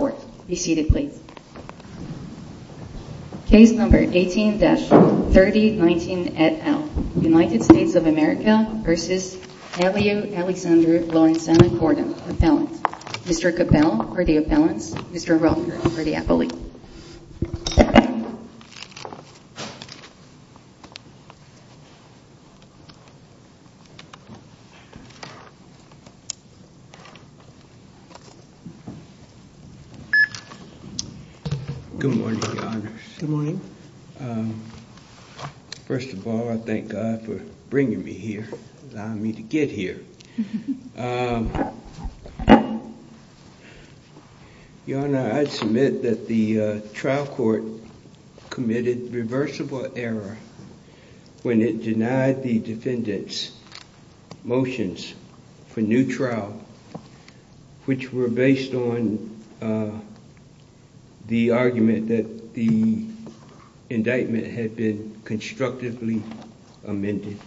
Appellant, Mr. Capel for the Appellants, Mr. Rotherford for the Appellant. Good morning, Your Honor. Good morning. First of all, I thank God for bringing me here, allowing me to get here. Your Honor, I submit that the trial court committed reversible error when it denied the defendant's motions for new trial, which were based on the argument that the indictment had been constructively amended.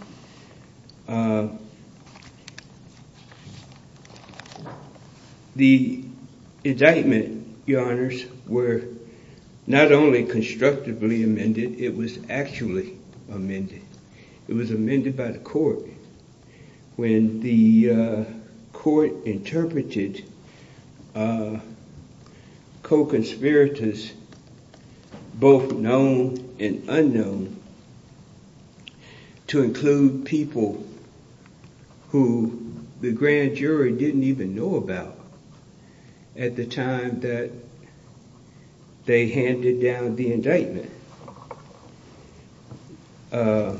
The indictment, Your Honors, were not only constructively amended, it was actually amended. It was amended by the court when the court interpreted co-conspirators, both known and unknown, to include people who the grand jury didn't even know about at the time that they handed down the indictment. The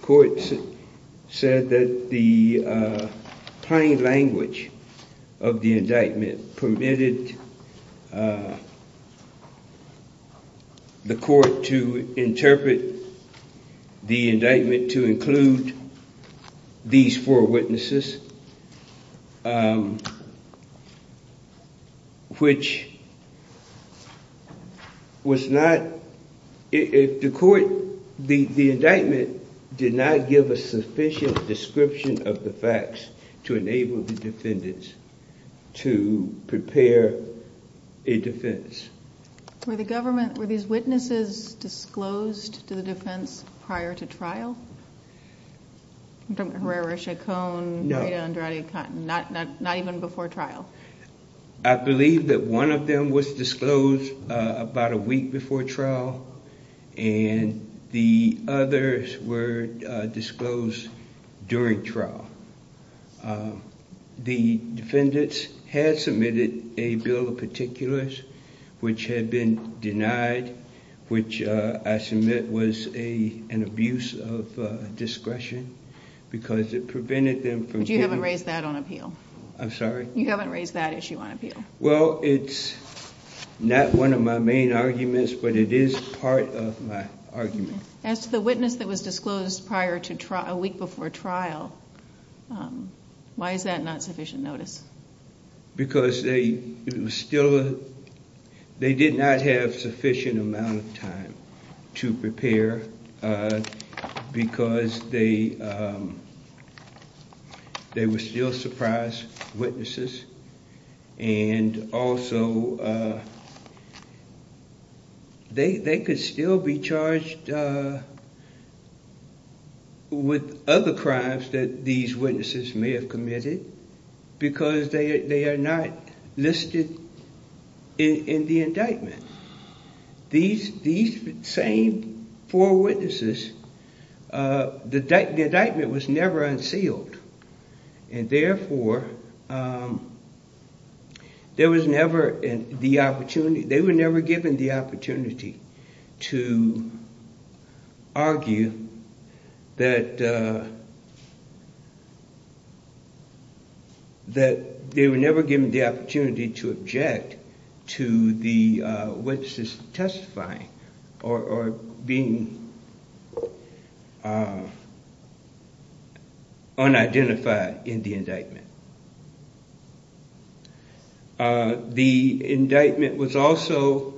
court said that the plain language of the indictment permitted the court to interpret the indictment to include these four witnesses, which the indictment did not give a sufficient description of the facts to enable the defendants to prepare a defense. Were these witnesses disclosed to the defense prior to trial? I'm talking about Herrera, Chacon, Reda, Andrade, Cotton, not even before trial. I believe that one of them was disclosed about a week before trial, and the others were disclosed during trial. The defendants had submitted a bill of particulars which had been denied, which I submit was an abuse of discretion because it prevented them from giving... But you haven't raised that on appeal. I'm sorry? You haven't raised that issue on appeal. Well, it's not one of my main arguments, but it is part of my argument. As to the witness that was disclosed a week before trial, why is that not sufficient notice? Because they did not have sufficient amount of time to prepare because they were still surprise witnesses. Also, they could still be charged with other crimes that these witnesses may have committed because they are not listed in the indictment. These same four witnesses, the indictment was never unsealed. Therefore, they were never given the opportunity to argue that they were never given the opportunity to object to the witnesses testifying or being unidentified. The indictment was also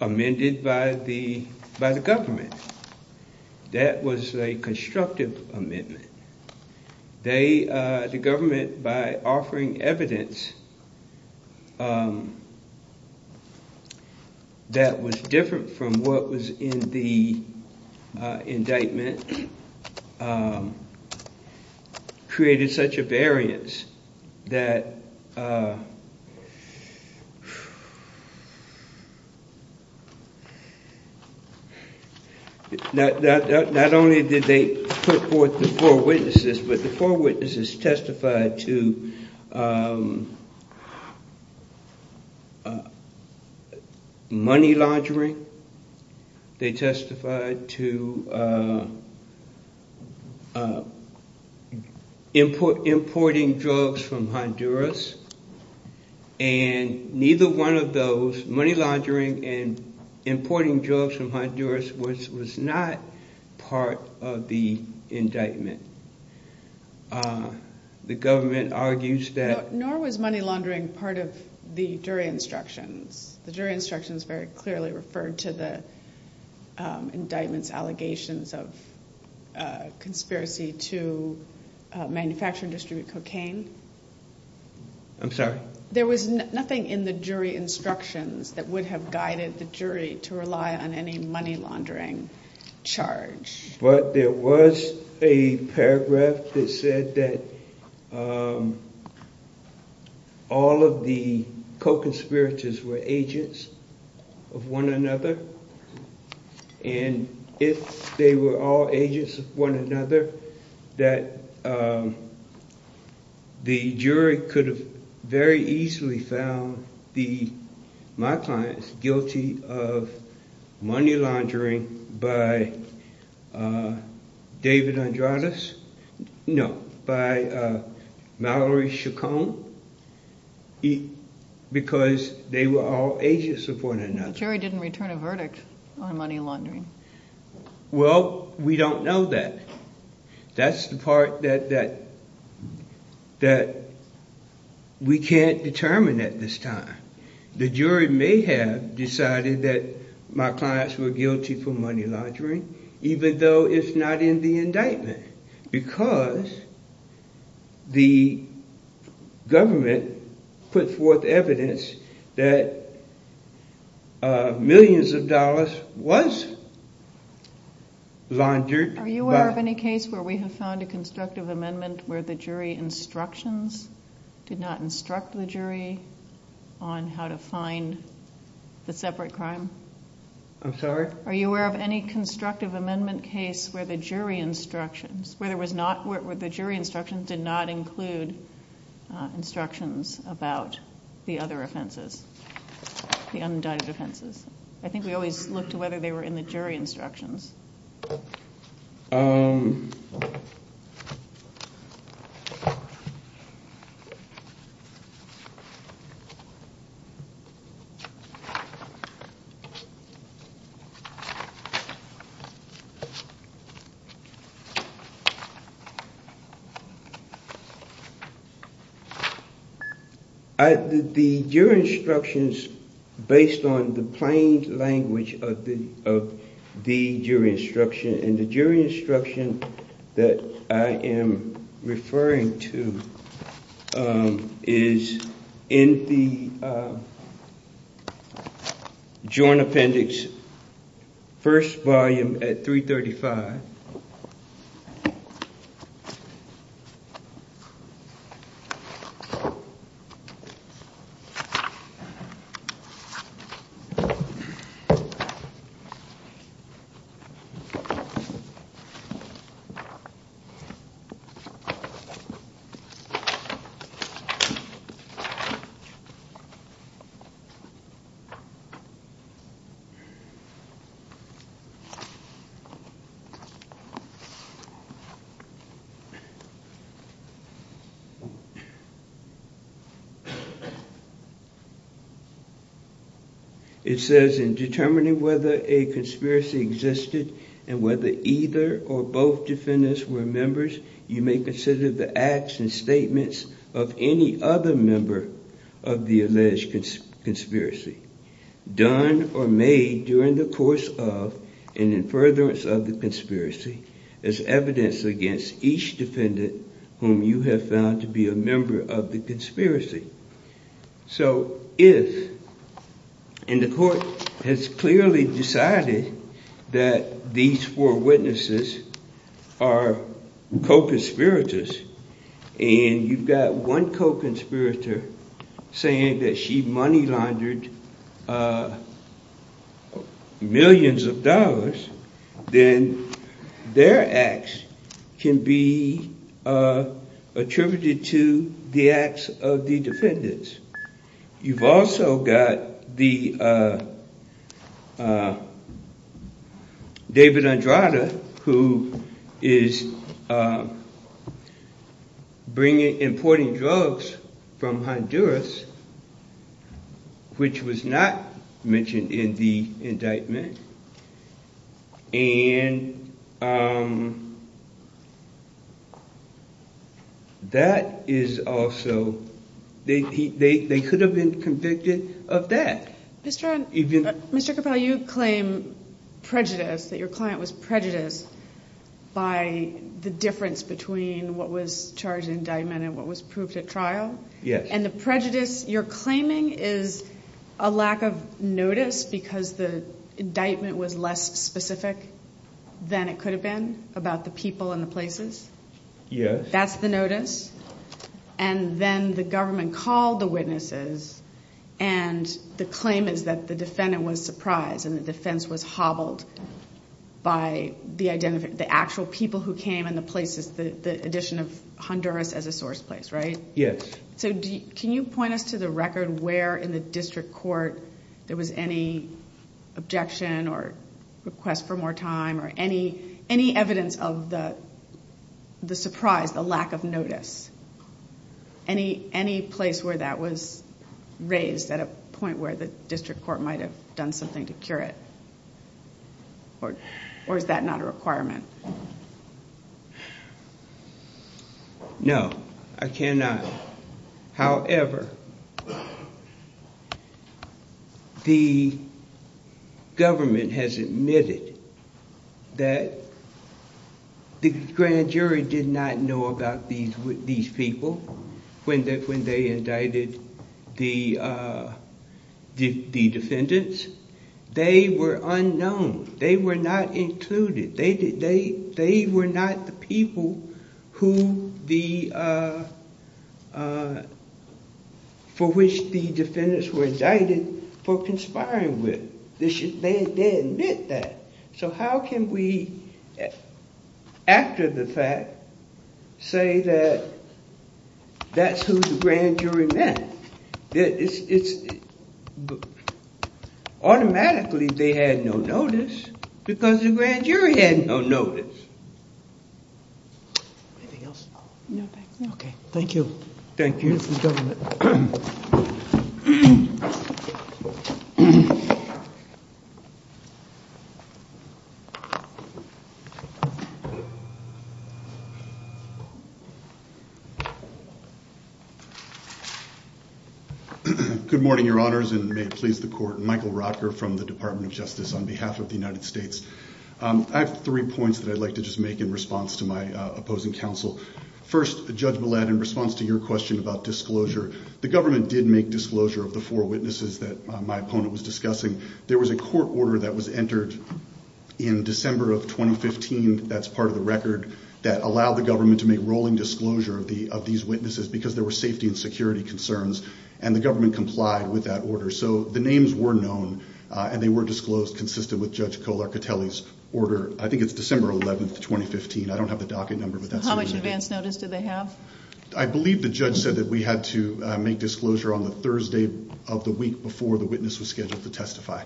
amended by the government. That was a constructive amendment. The government, by offering evidence that was different from what was in the indictment, created such a variance that... The four witnesses testified to money laundering. They testified to importing drugs from Honduras. Neither one of those, money laundering and importing drugs from Honduras, was not part of the indictment. The government argues that... Nor was money laundering part of the jury instructions. The jury instructions very clearly referred to the indictment's allegations of conspiracy to manufacture and distribute cocaine. I'm sorry? There was nothing in the jury instructions that would have guided the jury to rely on any money laundering charge. But there was a paragraph that said that all of the co-conspirators were agents of one another. If they were all agents of one another, the jury could have very easily found my clients guilty of money laundering by David Andradez. No, by Mallory Chacon. Because they were all agents of one another. The jury didn't return a verdict on money laundering. Well, we don't know that. That's the part that we can't determine at this time. The jury may have decided that my clients were guilty for money laundering, even though it's not in the indictment. Because the government put forth evidence that millions of dollars was laundered by... I'm sorry? Are you aware of any constructive amendment case where the jury instructions did not include instructions about the other offenses, the undicted offenses? I think we always look to whether they were in the jury instructions. The jury instructions, based on the plain language of the jury, and the jury instruction that I am referring to is in the Joint Appendix, first volume at 335. It says, And whether either or both defendants were members, you may consider the acts and statements of any other member of the alleged conspiracy, done or made during the course of and in furtherance of the conspiracy, as evidence against each defendant whom you have found to be a member of the conspiracy. So if, and the court has clearly decided that these four witnesses are co-conspirators, and you've got one co-conspirator saying that she money laundered millions of dollars, then their acts can be attributed to the acts of the defendants. You've also got David Andrada, who is importing drugs from Honduras, which was not mentioned in the indictment. And that is also, they could have been convicted of that. Mr. Capello, you claim prejudice, that your client was prejudiced by the difference between what was charged in indictment and what was proved at trial. And the prejudice you're claiming is a lack of notice because the indictment was less specific than it could have been about the people and the places? Yes. That's the notice? And then the government called the witnesses, and the claim is that the defendant was surprised and the defense was hobbled by the actual people who came and the places, the addition of Honduras as a source place, right? Yes. Can you point us to the record where in the district court there was any objection or request for more time or any evidence of the surprise, the lack of notice? Any place where that was raised at a point where the district court might have done something to cure it? Or is that not a requirement? No, I cannot. However, the government has admitted that the grand jury did not know about these people when they indicted the defendants. They were unknown. They were not included. They were not the people for which the defendants were indicted for conspiring with. They admit that. So how can we, after the fact, say that that's who the grand jury meant? Automatically, they had no notice because the grand jury had no notice. Anything else? No, thank you. Okay, thank you. Thank you. Good morning, Your Honors, and may it please the court. Michael Rotker from the Department of Justice on behalf of the United States. I have three points that I'd like to just make in response to my opposing counsel. First, Judge Millett, in response to your question about disclosure, the government did make disclosure of the four witnesses that my opponent was discussing. There was a court order that was entered in December of 2015, that's part of the record, that allowed the government to make rolling disclosure of these witnesses because there were safety and security concerns, and the government complied with that order. So the names were known, and they were disclosed consistent with Judge Colart-Catelli's order. I think it's December 11, 2015. I don't have the docket number. How much advance notice did they have? I believe the judge said that we had to make disclosure on the Thursday of the week before the witness was scheduled to testify.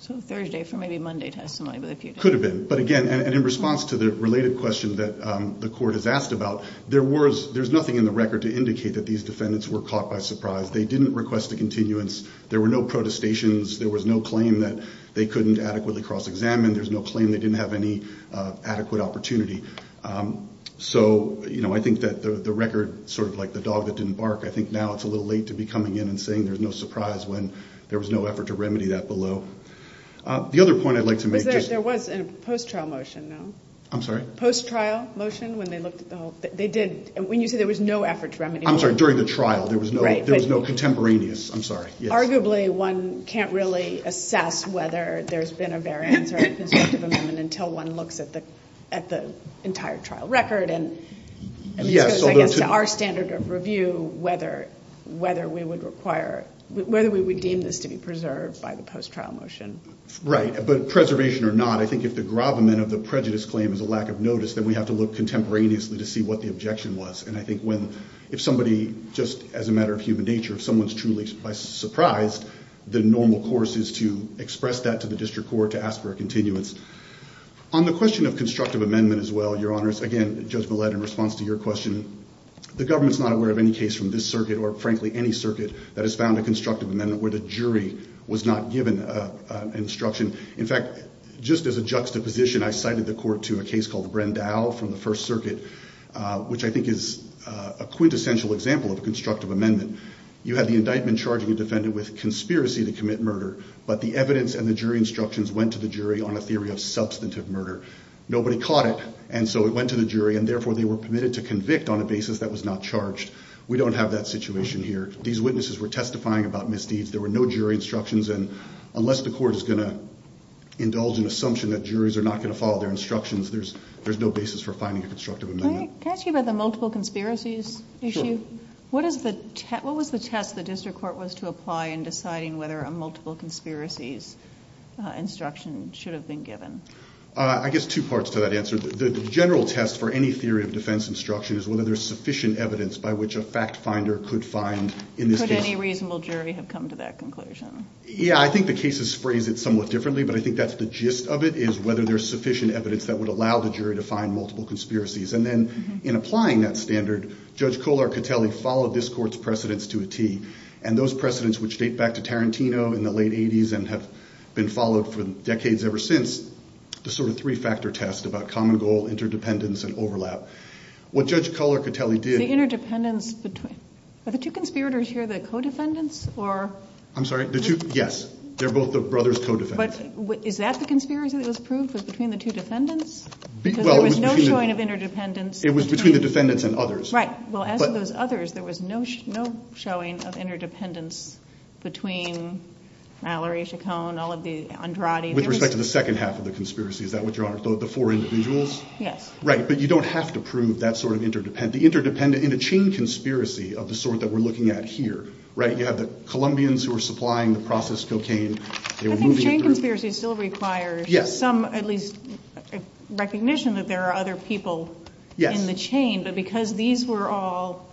So Thursday for maybe Monday testimony. Could have been. But again, in response to the related question that the court has asked about, there's nothing in the record to indicate that these defendants were caught by surprise. They didn't request a continuance. There were no protestations. There was no claim that they couldn't adequately cross-examine. There's no claim they didn't have any adequate opportunity. So, you know, I think that the record, sort of like the dog that didn't bark, I think now it's a little late to be coming in and saying there's no surprise when there was no effort to remedy that below. The other point I'd like to make. There was a post-trial motion, though. I'm sorry? Post-trial motion when they looked at the whole thing. They did. When you say there was no effort to remedy. I'm sorry, during the trial. There was no contemporaneous. I'm sorry. Arguably, one can't really assess whether there's been a variance or a constructive amendment until one looks at the entire trial record. And this goes, I guess, to our standard of review, whether we would require, whether we would deem this to be preserved by the post-trial motion. Right. But preservation or not, I think if the gravamen of the prejudice claim is a lack of notice, then we have to look contemporaneously to see what the objection was. And I think when, if somebody, just as a matter of human nature, if someone's truly surprised, the normal course is to express that to the district court to ask for a continuance. On the question of constructive amendment as well, Your Honors, again, Judge Millett, in response to your question, the government's not aware of any case from this circuit, or frankly any circuit, that has found a constructive amendment where the jury was not given instruction. In fact, just as a juxtaposition, I cited the court to a case called the Brendau from the First Circuit, which I think is a quintessential example of a constructive amendment. You had the indictment charging a defendant with conspiracy to commit murder, but the evidence and the jury instructions went to the jury on a theory of substantive murder. Nobody caught it, and so it went to the jury, and therefore they were permitted to convict on a basis that was not charged. We don't have that situation here. These witnesses were testifying about misdeeds. There were no jury instructions. And unless the court is going to indulge an assumption that juries are not going to follow their instructions, there's no basis for finding a constructive amendment. Can I ask you about the multiple conspiracies issue? Sure. What was the test the district court was to apply in deciding whether a multiple conspiracies instruction should have been given? I guess two parts to that answer. The general test for any theory of defense instruction is whether there's sufficient evidence by which a fact finder could find in this case. Could any reasonable jury have come to that conclusion? Yeah, I think the case sprays it somewhat differently, but I think that's the gist of it is whether there's sufficient evidence that would allow the jury to find multiple conspiracies. And then in applying that standard, Judge Kohler-Catelli followed this court's precedence to a tee, and those precedents, which date back to Tarantino in the late 80s and have been followed for decades ever since, the sort of three-factor test about common goal, interdependence, and overlap. What Judge Kohler-Catelli did— The interdependence between—are the two conspirators here the co-defendants or— I'm sorry? The two—yes. They're both the brothers' co-defendants. But is that the conspiracy that was proved was between the two defendants? Well, it was between— Because there was no showing of interdependence between— It was between the defendants and others. Right. Well, as with those others, there was no showing of interdependence between Mallory, Chacon, all of the Andrade. With respect to the second half of the conspiracy, is that what you're—the four individuals? Yes. Right, but you don't have to prove that sort of interdependence. The interdependence in a chain conspiracy of the sort that we're looking at here, right, you have the Colombians who are supplying the processed cocaine. They were moving it through— I think chain conspiracies still require some, at least, recognition that there are other people in the chain. Yes. But because these were all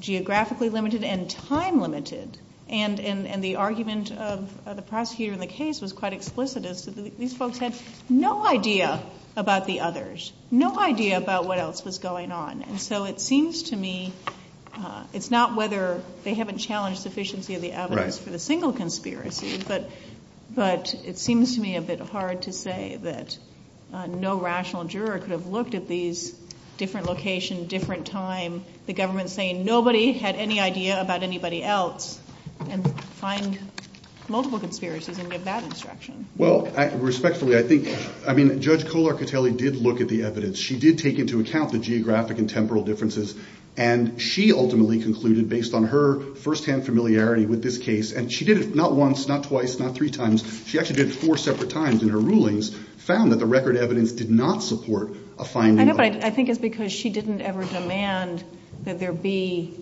geographically limited and time limited, and the argument of the prosecutor in the case was quite explicit as to these folks had no idea about the others, no idea about what else was going on. And so it seems to me—it's not whether they haven't challenged sufficiency of the evidence for the single conspiracy, but it seems to me a bit hard to say that no rational juror could have looked at these different locations, different time, the government saying nobody had any idea about anybody else, and find multiple conspiracies and give that instruction. Well, respectfully, I think—I mean, Judge Kolar-Catelli did look at the evidence. She did take into account the geographic and temporal differences, and she ultimately concluded, based on her firsthand familiarity with this case—and she did it not once, not twice, not three times. She actually did it four separate times in her rulings—found that the record evidence did not support a fine ruler. I think it's because she didn't ever demand that there be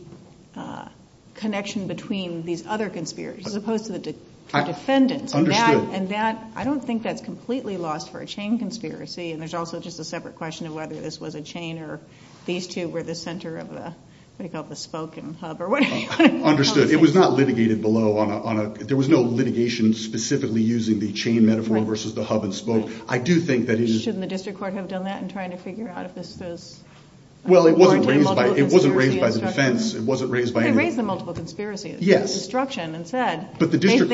connection between these other conspiracies, as opposed to the defendants. Understood. And that—I don't think that's completely lost for a chain conspiracy, and there's also just a separate question of whether this was a chain or these two were the center of the—what do you call it—the spoke and hub or whatever. Understood. It was not litigated below on a—there was no litigation specifically using the chain metaphor versus the hub and spoke. I do think that it is— Shouldn't the district court have done that in trying to figure out if this was— Well, it wasn't raised by—it wasn't raised by the defense. It wasn't raised by any— They raised the multiple conspiracies— Yes. —instruction and said— But the district—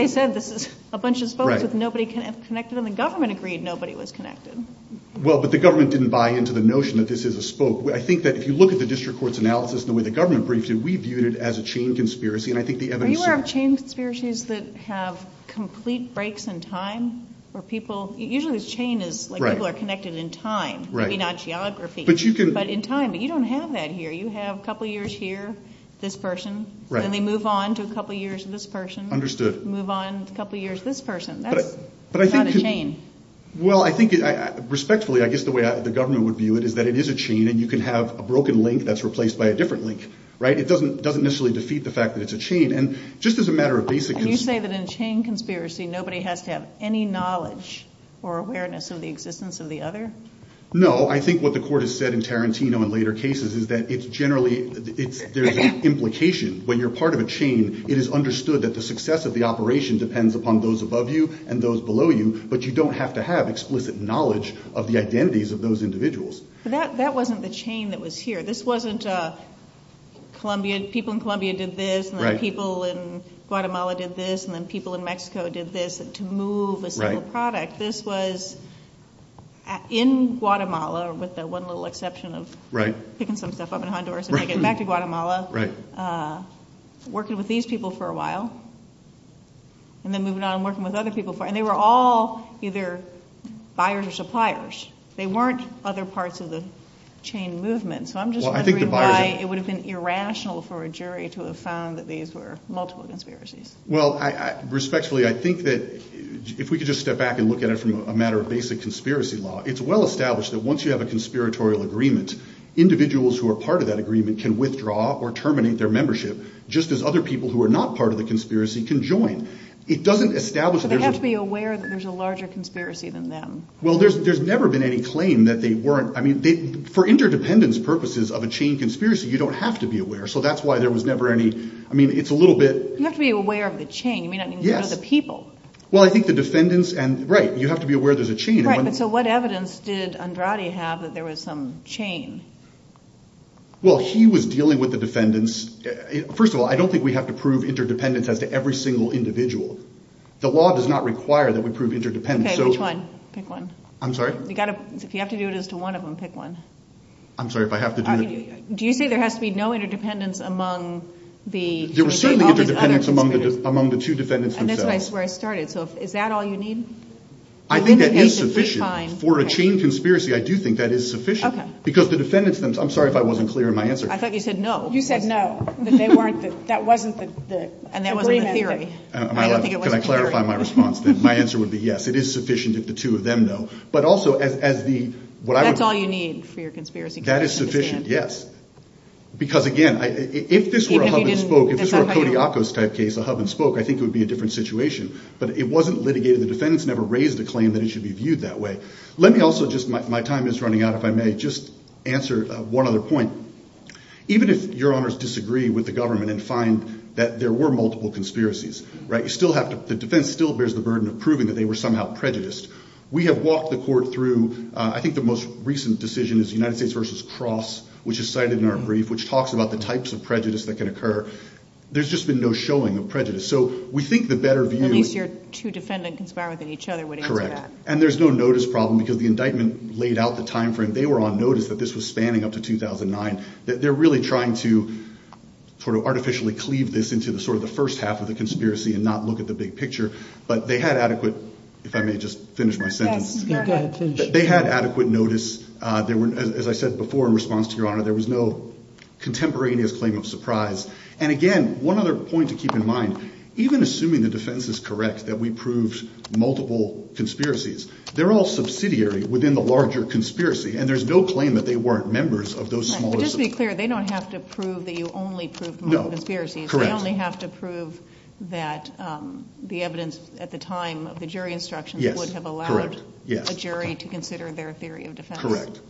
Well, but the government didn't buy into the notion that this is a spoke. I think that if you look at the district court's analysis and the way the government briefed it, we viewed it as a chain conspiracy, and I think the evidence— Are you aware of chain conspiracies that have complete breaks in time where people—usually this chain is— Right. —like people are connected in time, maybe not geography. But you can— But in time, but you don't have that here. You have a couple years here, this person. Right. Then they move on to a couple years this person. Understood. Move on a couple years this person. That's not a chain. Well, I think—respectfully, I guess the way the government would view it is that it is a chain, and you can have a broken link that's replaced by a different link, right? It doesn't necessarily defeat the fact that it's a chain. And just as a matter of basic— And you say that in a chain conspiracy, nobody has to have any knowledge or awareness of the existence of the other? No. I think what the court has said in Tarantino in later cases is that it's generally—there's an implication. When you're part of a chain, it is understood that the success of the operation depends upon those above you and those below you, but you don't have to have explicit knowledge of the identities of those individuals. But that wasn't the chain that was here. This wasn't people in Colombia did this, and then people in Guatemala did this, and then people in Mexico did this to move a single product. This was in Guatemala, with the one little exception of picking some stuff up in Honduras and making it back to Guatemala, working with these people for a while, and then moving on and working with other people for—and they were all either buyers or suppliers. They weren't other parts of the chain movement. So I'm just wondering why it would have been irrational for a jury to have found that these were multiple conspiracies. Well, respectfully, I think that if we could just step back and look at it from a matter of basic conspiracy law, it's well established that once you have a conspiratorial agreement, individuals who are part of that agreement can withdraw or terminate their membership, just as other people who are not part of the conspiracy can join. It doesn't establish— So they have to be aware that there's a larger conspiracy than them. Well, there's never been any claim that they weren't—I mean, for interdependence purposes of a chain conspiracy, you don't have to be aware. So that's why there was never any—I mean, it's a little bit— You have to be aware of the chain. You may not even know the people. Yes. Well, I think the defendants and—right, you have to be aware there's a chain. Right, but so what evidence did Andrade have that there was some chain? Well, he was dealing with the defendants—first of all, I don't think we have to prove interdependence as to every single individual. The law does not require that we prove interdependence. Okay, which one? Pick one. I'm sorry? You've got to—if you have to do it as to one of them, pick one. I'm sorry, if I have to do it— Do you say there has to be no interdependence among the— There was certainly interdependence among the two defendants themselves. And that's where I started. So is that all you need? I think that is sufficient. For a chain conspiracy, I do think that is sufficient. Okay. Because the defendants themselves—I'm sorry if I wasn't clear in my answer. I thought you said no. You said no, that they weren't—that wasn't the agreement. And that wasn't the theory. Can I clarify my response then? My answer would be yes, it is sufficient if the two of them know. But also, as the— That's all you need for your conspiracy theory. That is sufficient, yes. Because, again, if this were a hub-and-spoke, if this were a Kodiakos-type case, a hub-and-spoke, I think it would be a different situation. But it wasn't litigated. The defendants never raised a claim that it should be viewed that way. Let me also just—my time is running out, if I may—just answer one other point. Even if Your Honors disagree with the government and find that there were multiple conspiracies, right? You still have to—the defense still bears the burden of proving that they were somehow prejudiced. We have walked the court through—I think the most recent decision is United States v. Cross, which is cited in our brief, which talks about the types of prejudice that can occur. There's just been no showing of prejudice. So we think the better view— At least your two defendants conspire within each other would answer that. Correct. And there's no notice problem because the indictment laid out the time frame. They were on notice that this was spanning up to 2009. They're really trying to sort of artificially cleave this into sort of the first half of the conspiracy and not look at the big picture. But they had adequate—if I may just finish my sentence. Go ahead. Finish. They had adequate notice. As I said before in response to Your Honor, there was no contemporaneous claim of surprise. And again, one other point to keep in mind, even assuming the defense is correct that we proved multiple conspiracies, they're all subsidiary within the larger conspiracy, and there's no claim that they weren't members of those smaller— But just to be clear, they don't have to prove that you only proved multiple conspiracies. No. Correct. They only have to prove that the evidence at the time of the jury instructions would have allowed a jury to consider their theory of defense. Correct.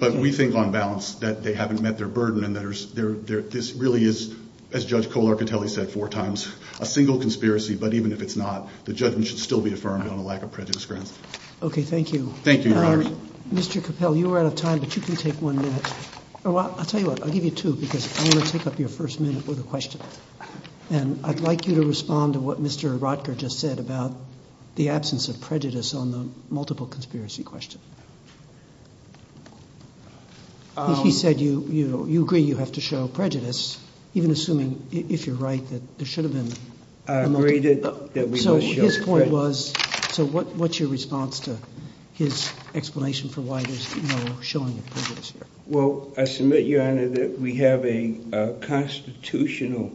But we think on balance that they haven't met their burden and that this really is, as Judge Cole-Arcatelli said four times, a single conspiracy. But even if it's not, the judgment should still be affirmed on a lack of prejudice grounds. Okay. Thank you. Thank you, Your Honor. Mr. Capel, you were out of time, but you can take one minute. I'll tell you what. I'll give you two because I want to take up your first minute with a question. And I'd like you to respond to what Mr. Rotker just said about the absence of prejudice on the multiple conspiracy question. He said you agree you have to show prejudice, even assuming, if you're right, that there should have been— I agreed that we must show prejudice. So his point was—so what's your response to his explanation for why there's no showing of prejudice here? Well, I submit, Your Honor, that we have a constitutional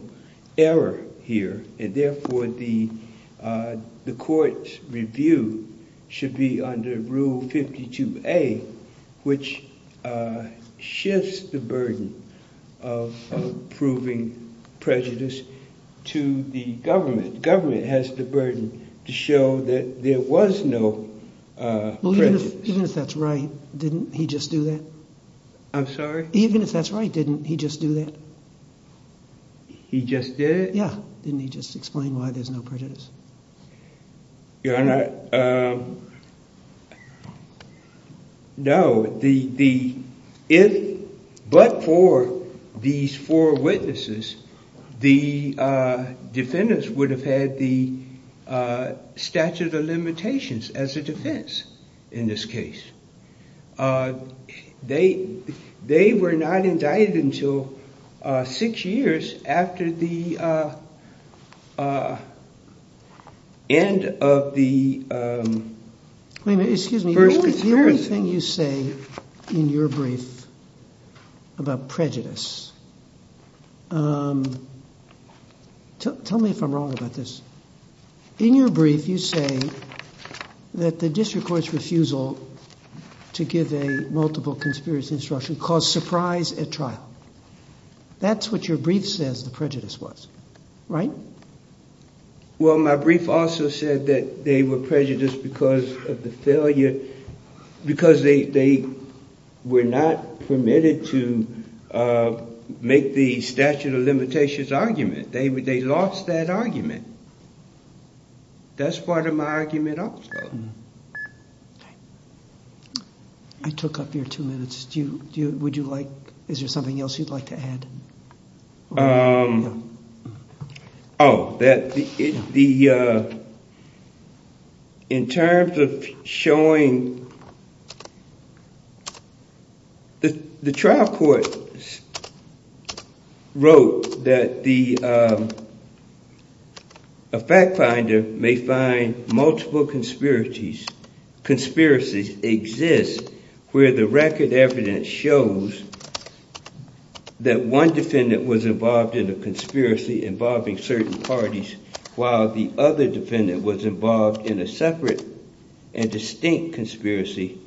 error here, and therefore the court's review should be under Rule 52A, which shifts the burden of proving prejudice to the government. The government has the burden to show that there was no prejudice. Even if that's right, didn't he just do that? I'm sorry? Even if that's right, didn't he just do that? He just did? Yeah. Didn't he just explain why there's no prejudice? Your Honor, no. If but for these four witnesses, the defendants would have had the statute of limitations as a defense in this case. They were not indicted until six years after the end of the first— Excuse me. The very thing you say in your brief about prejudice—tell me if I'm wrong about this. In your brief, you say that the district court's refusal to give a multiple conspiracy instruction caused surprise at trial. That's what your brief says the prejudice was, right? Well, my brief also said that they were prejudiced because of the failure—because they were not permitted to make the statute of limitations argument. They lost that argument. That's part of my argument also. Okay. I took up your two minutes. Would you like—is there something else you'd like to add? Oh, that the—in terms of showing—the trial court wrote that the fact finder may find multiple conspiracies exist where the record evidence shows that one defendant was involved in a conspiracy involving certain parties while the other defendant was involved in a separate and distinct conspiracy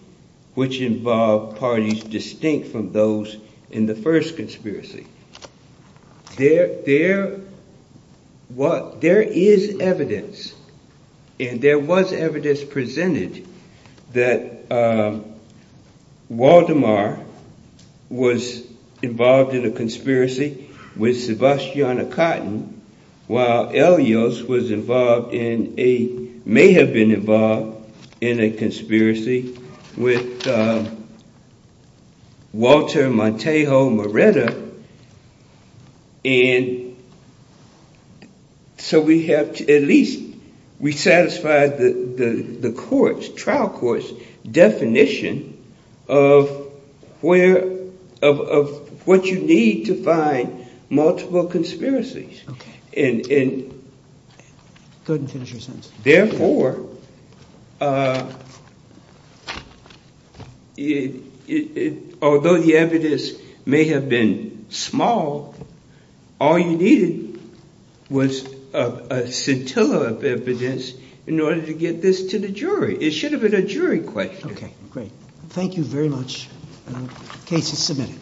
which involved parties distinct from those in the first conspiracy. There is evidence, and there was evidence presented that Waldemar was involved in a conspiracy with Sebastiano Cotton while Elias was involved in a—may have been involved in a conspiracy with Walter Montejo Moretta. And so we have to at least—we satisfied the court's, trial court's definition of where—of what you need to find multiple conspiracies. Okay. Go ahead and finish your sentence. Therefore, although the evidence may have been small, all you needed was a scintilla of evidence in order to get this to the jury. It should have been a jury question. Okay, great. Thank you very much. Case is submitted.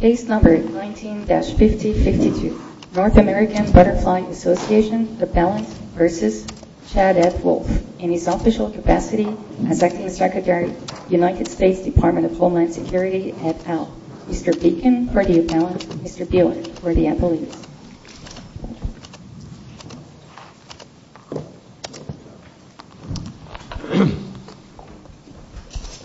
Case number 19-5052. North American Butterfly Association Appellant versus Chad F. Wolf. In his official capacity as Acting Secretary, United States Department of Homeland Security, et al. Mr. Beacon for the appellant. Mr. Buell for the appellant. Thank you.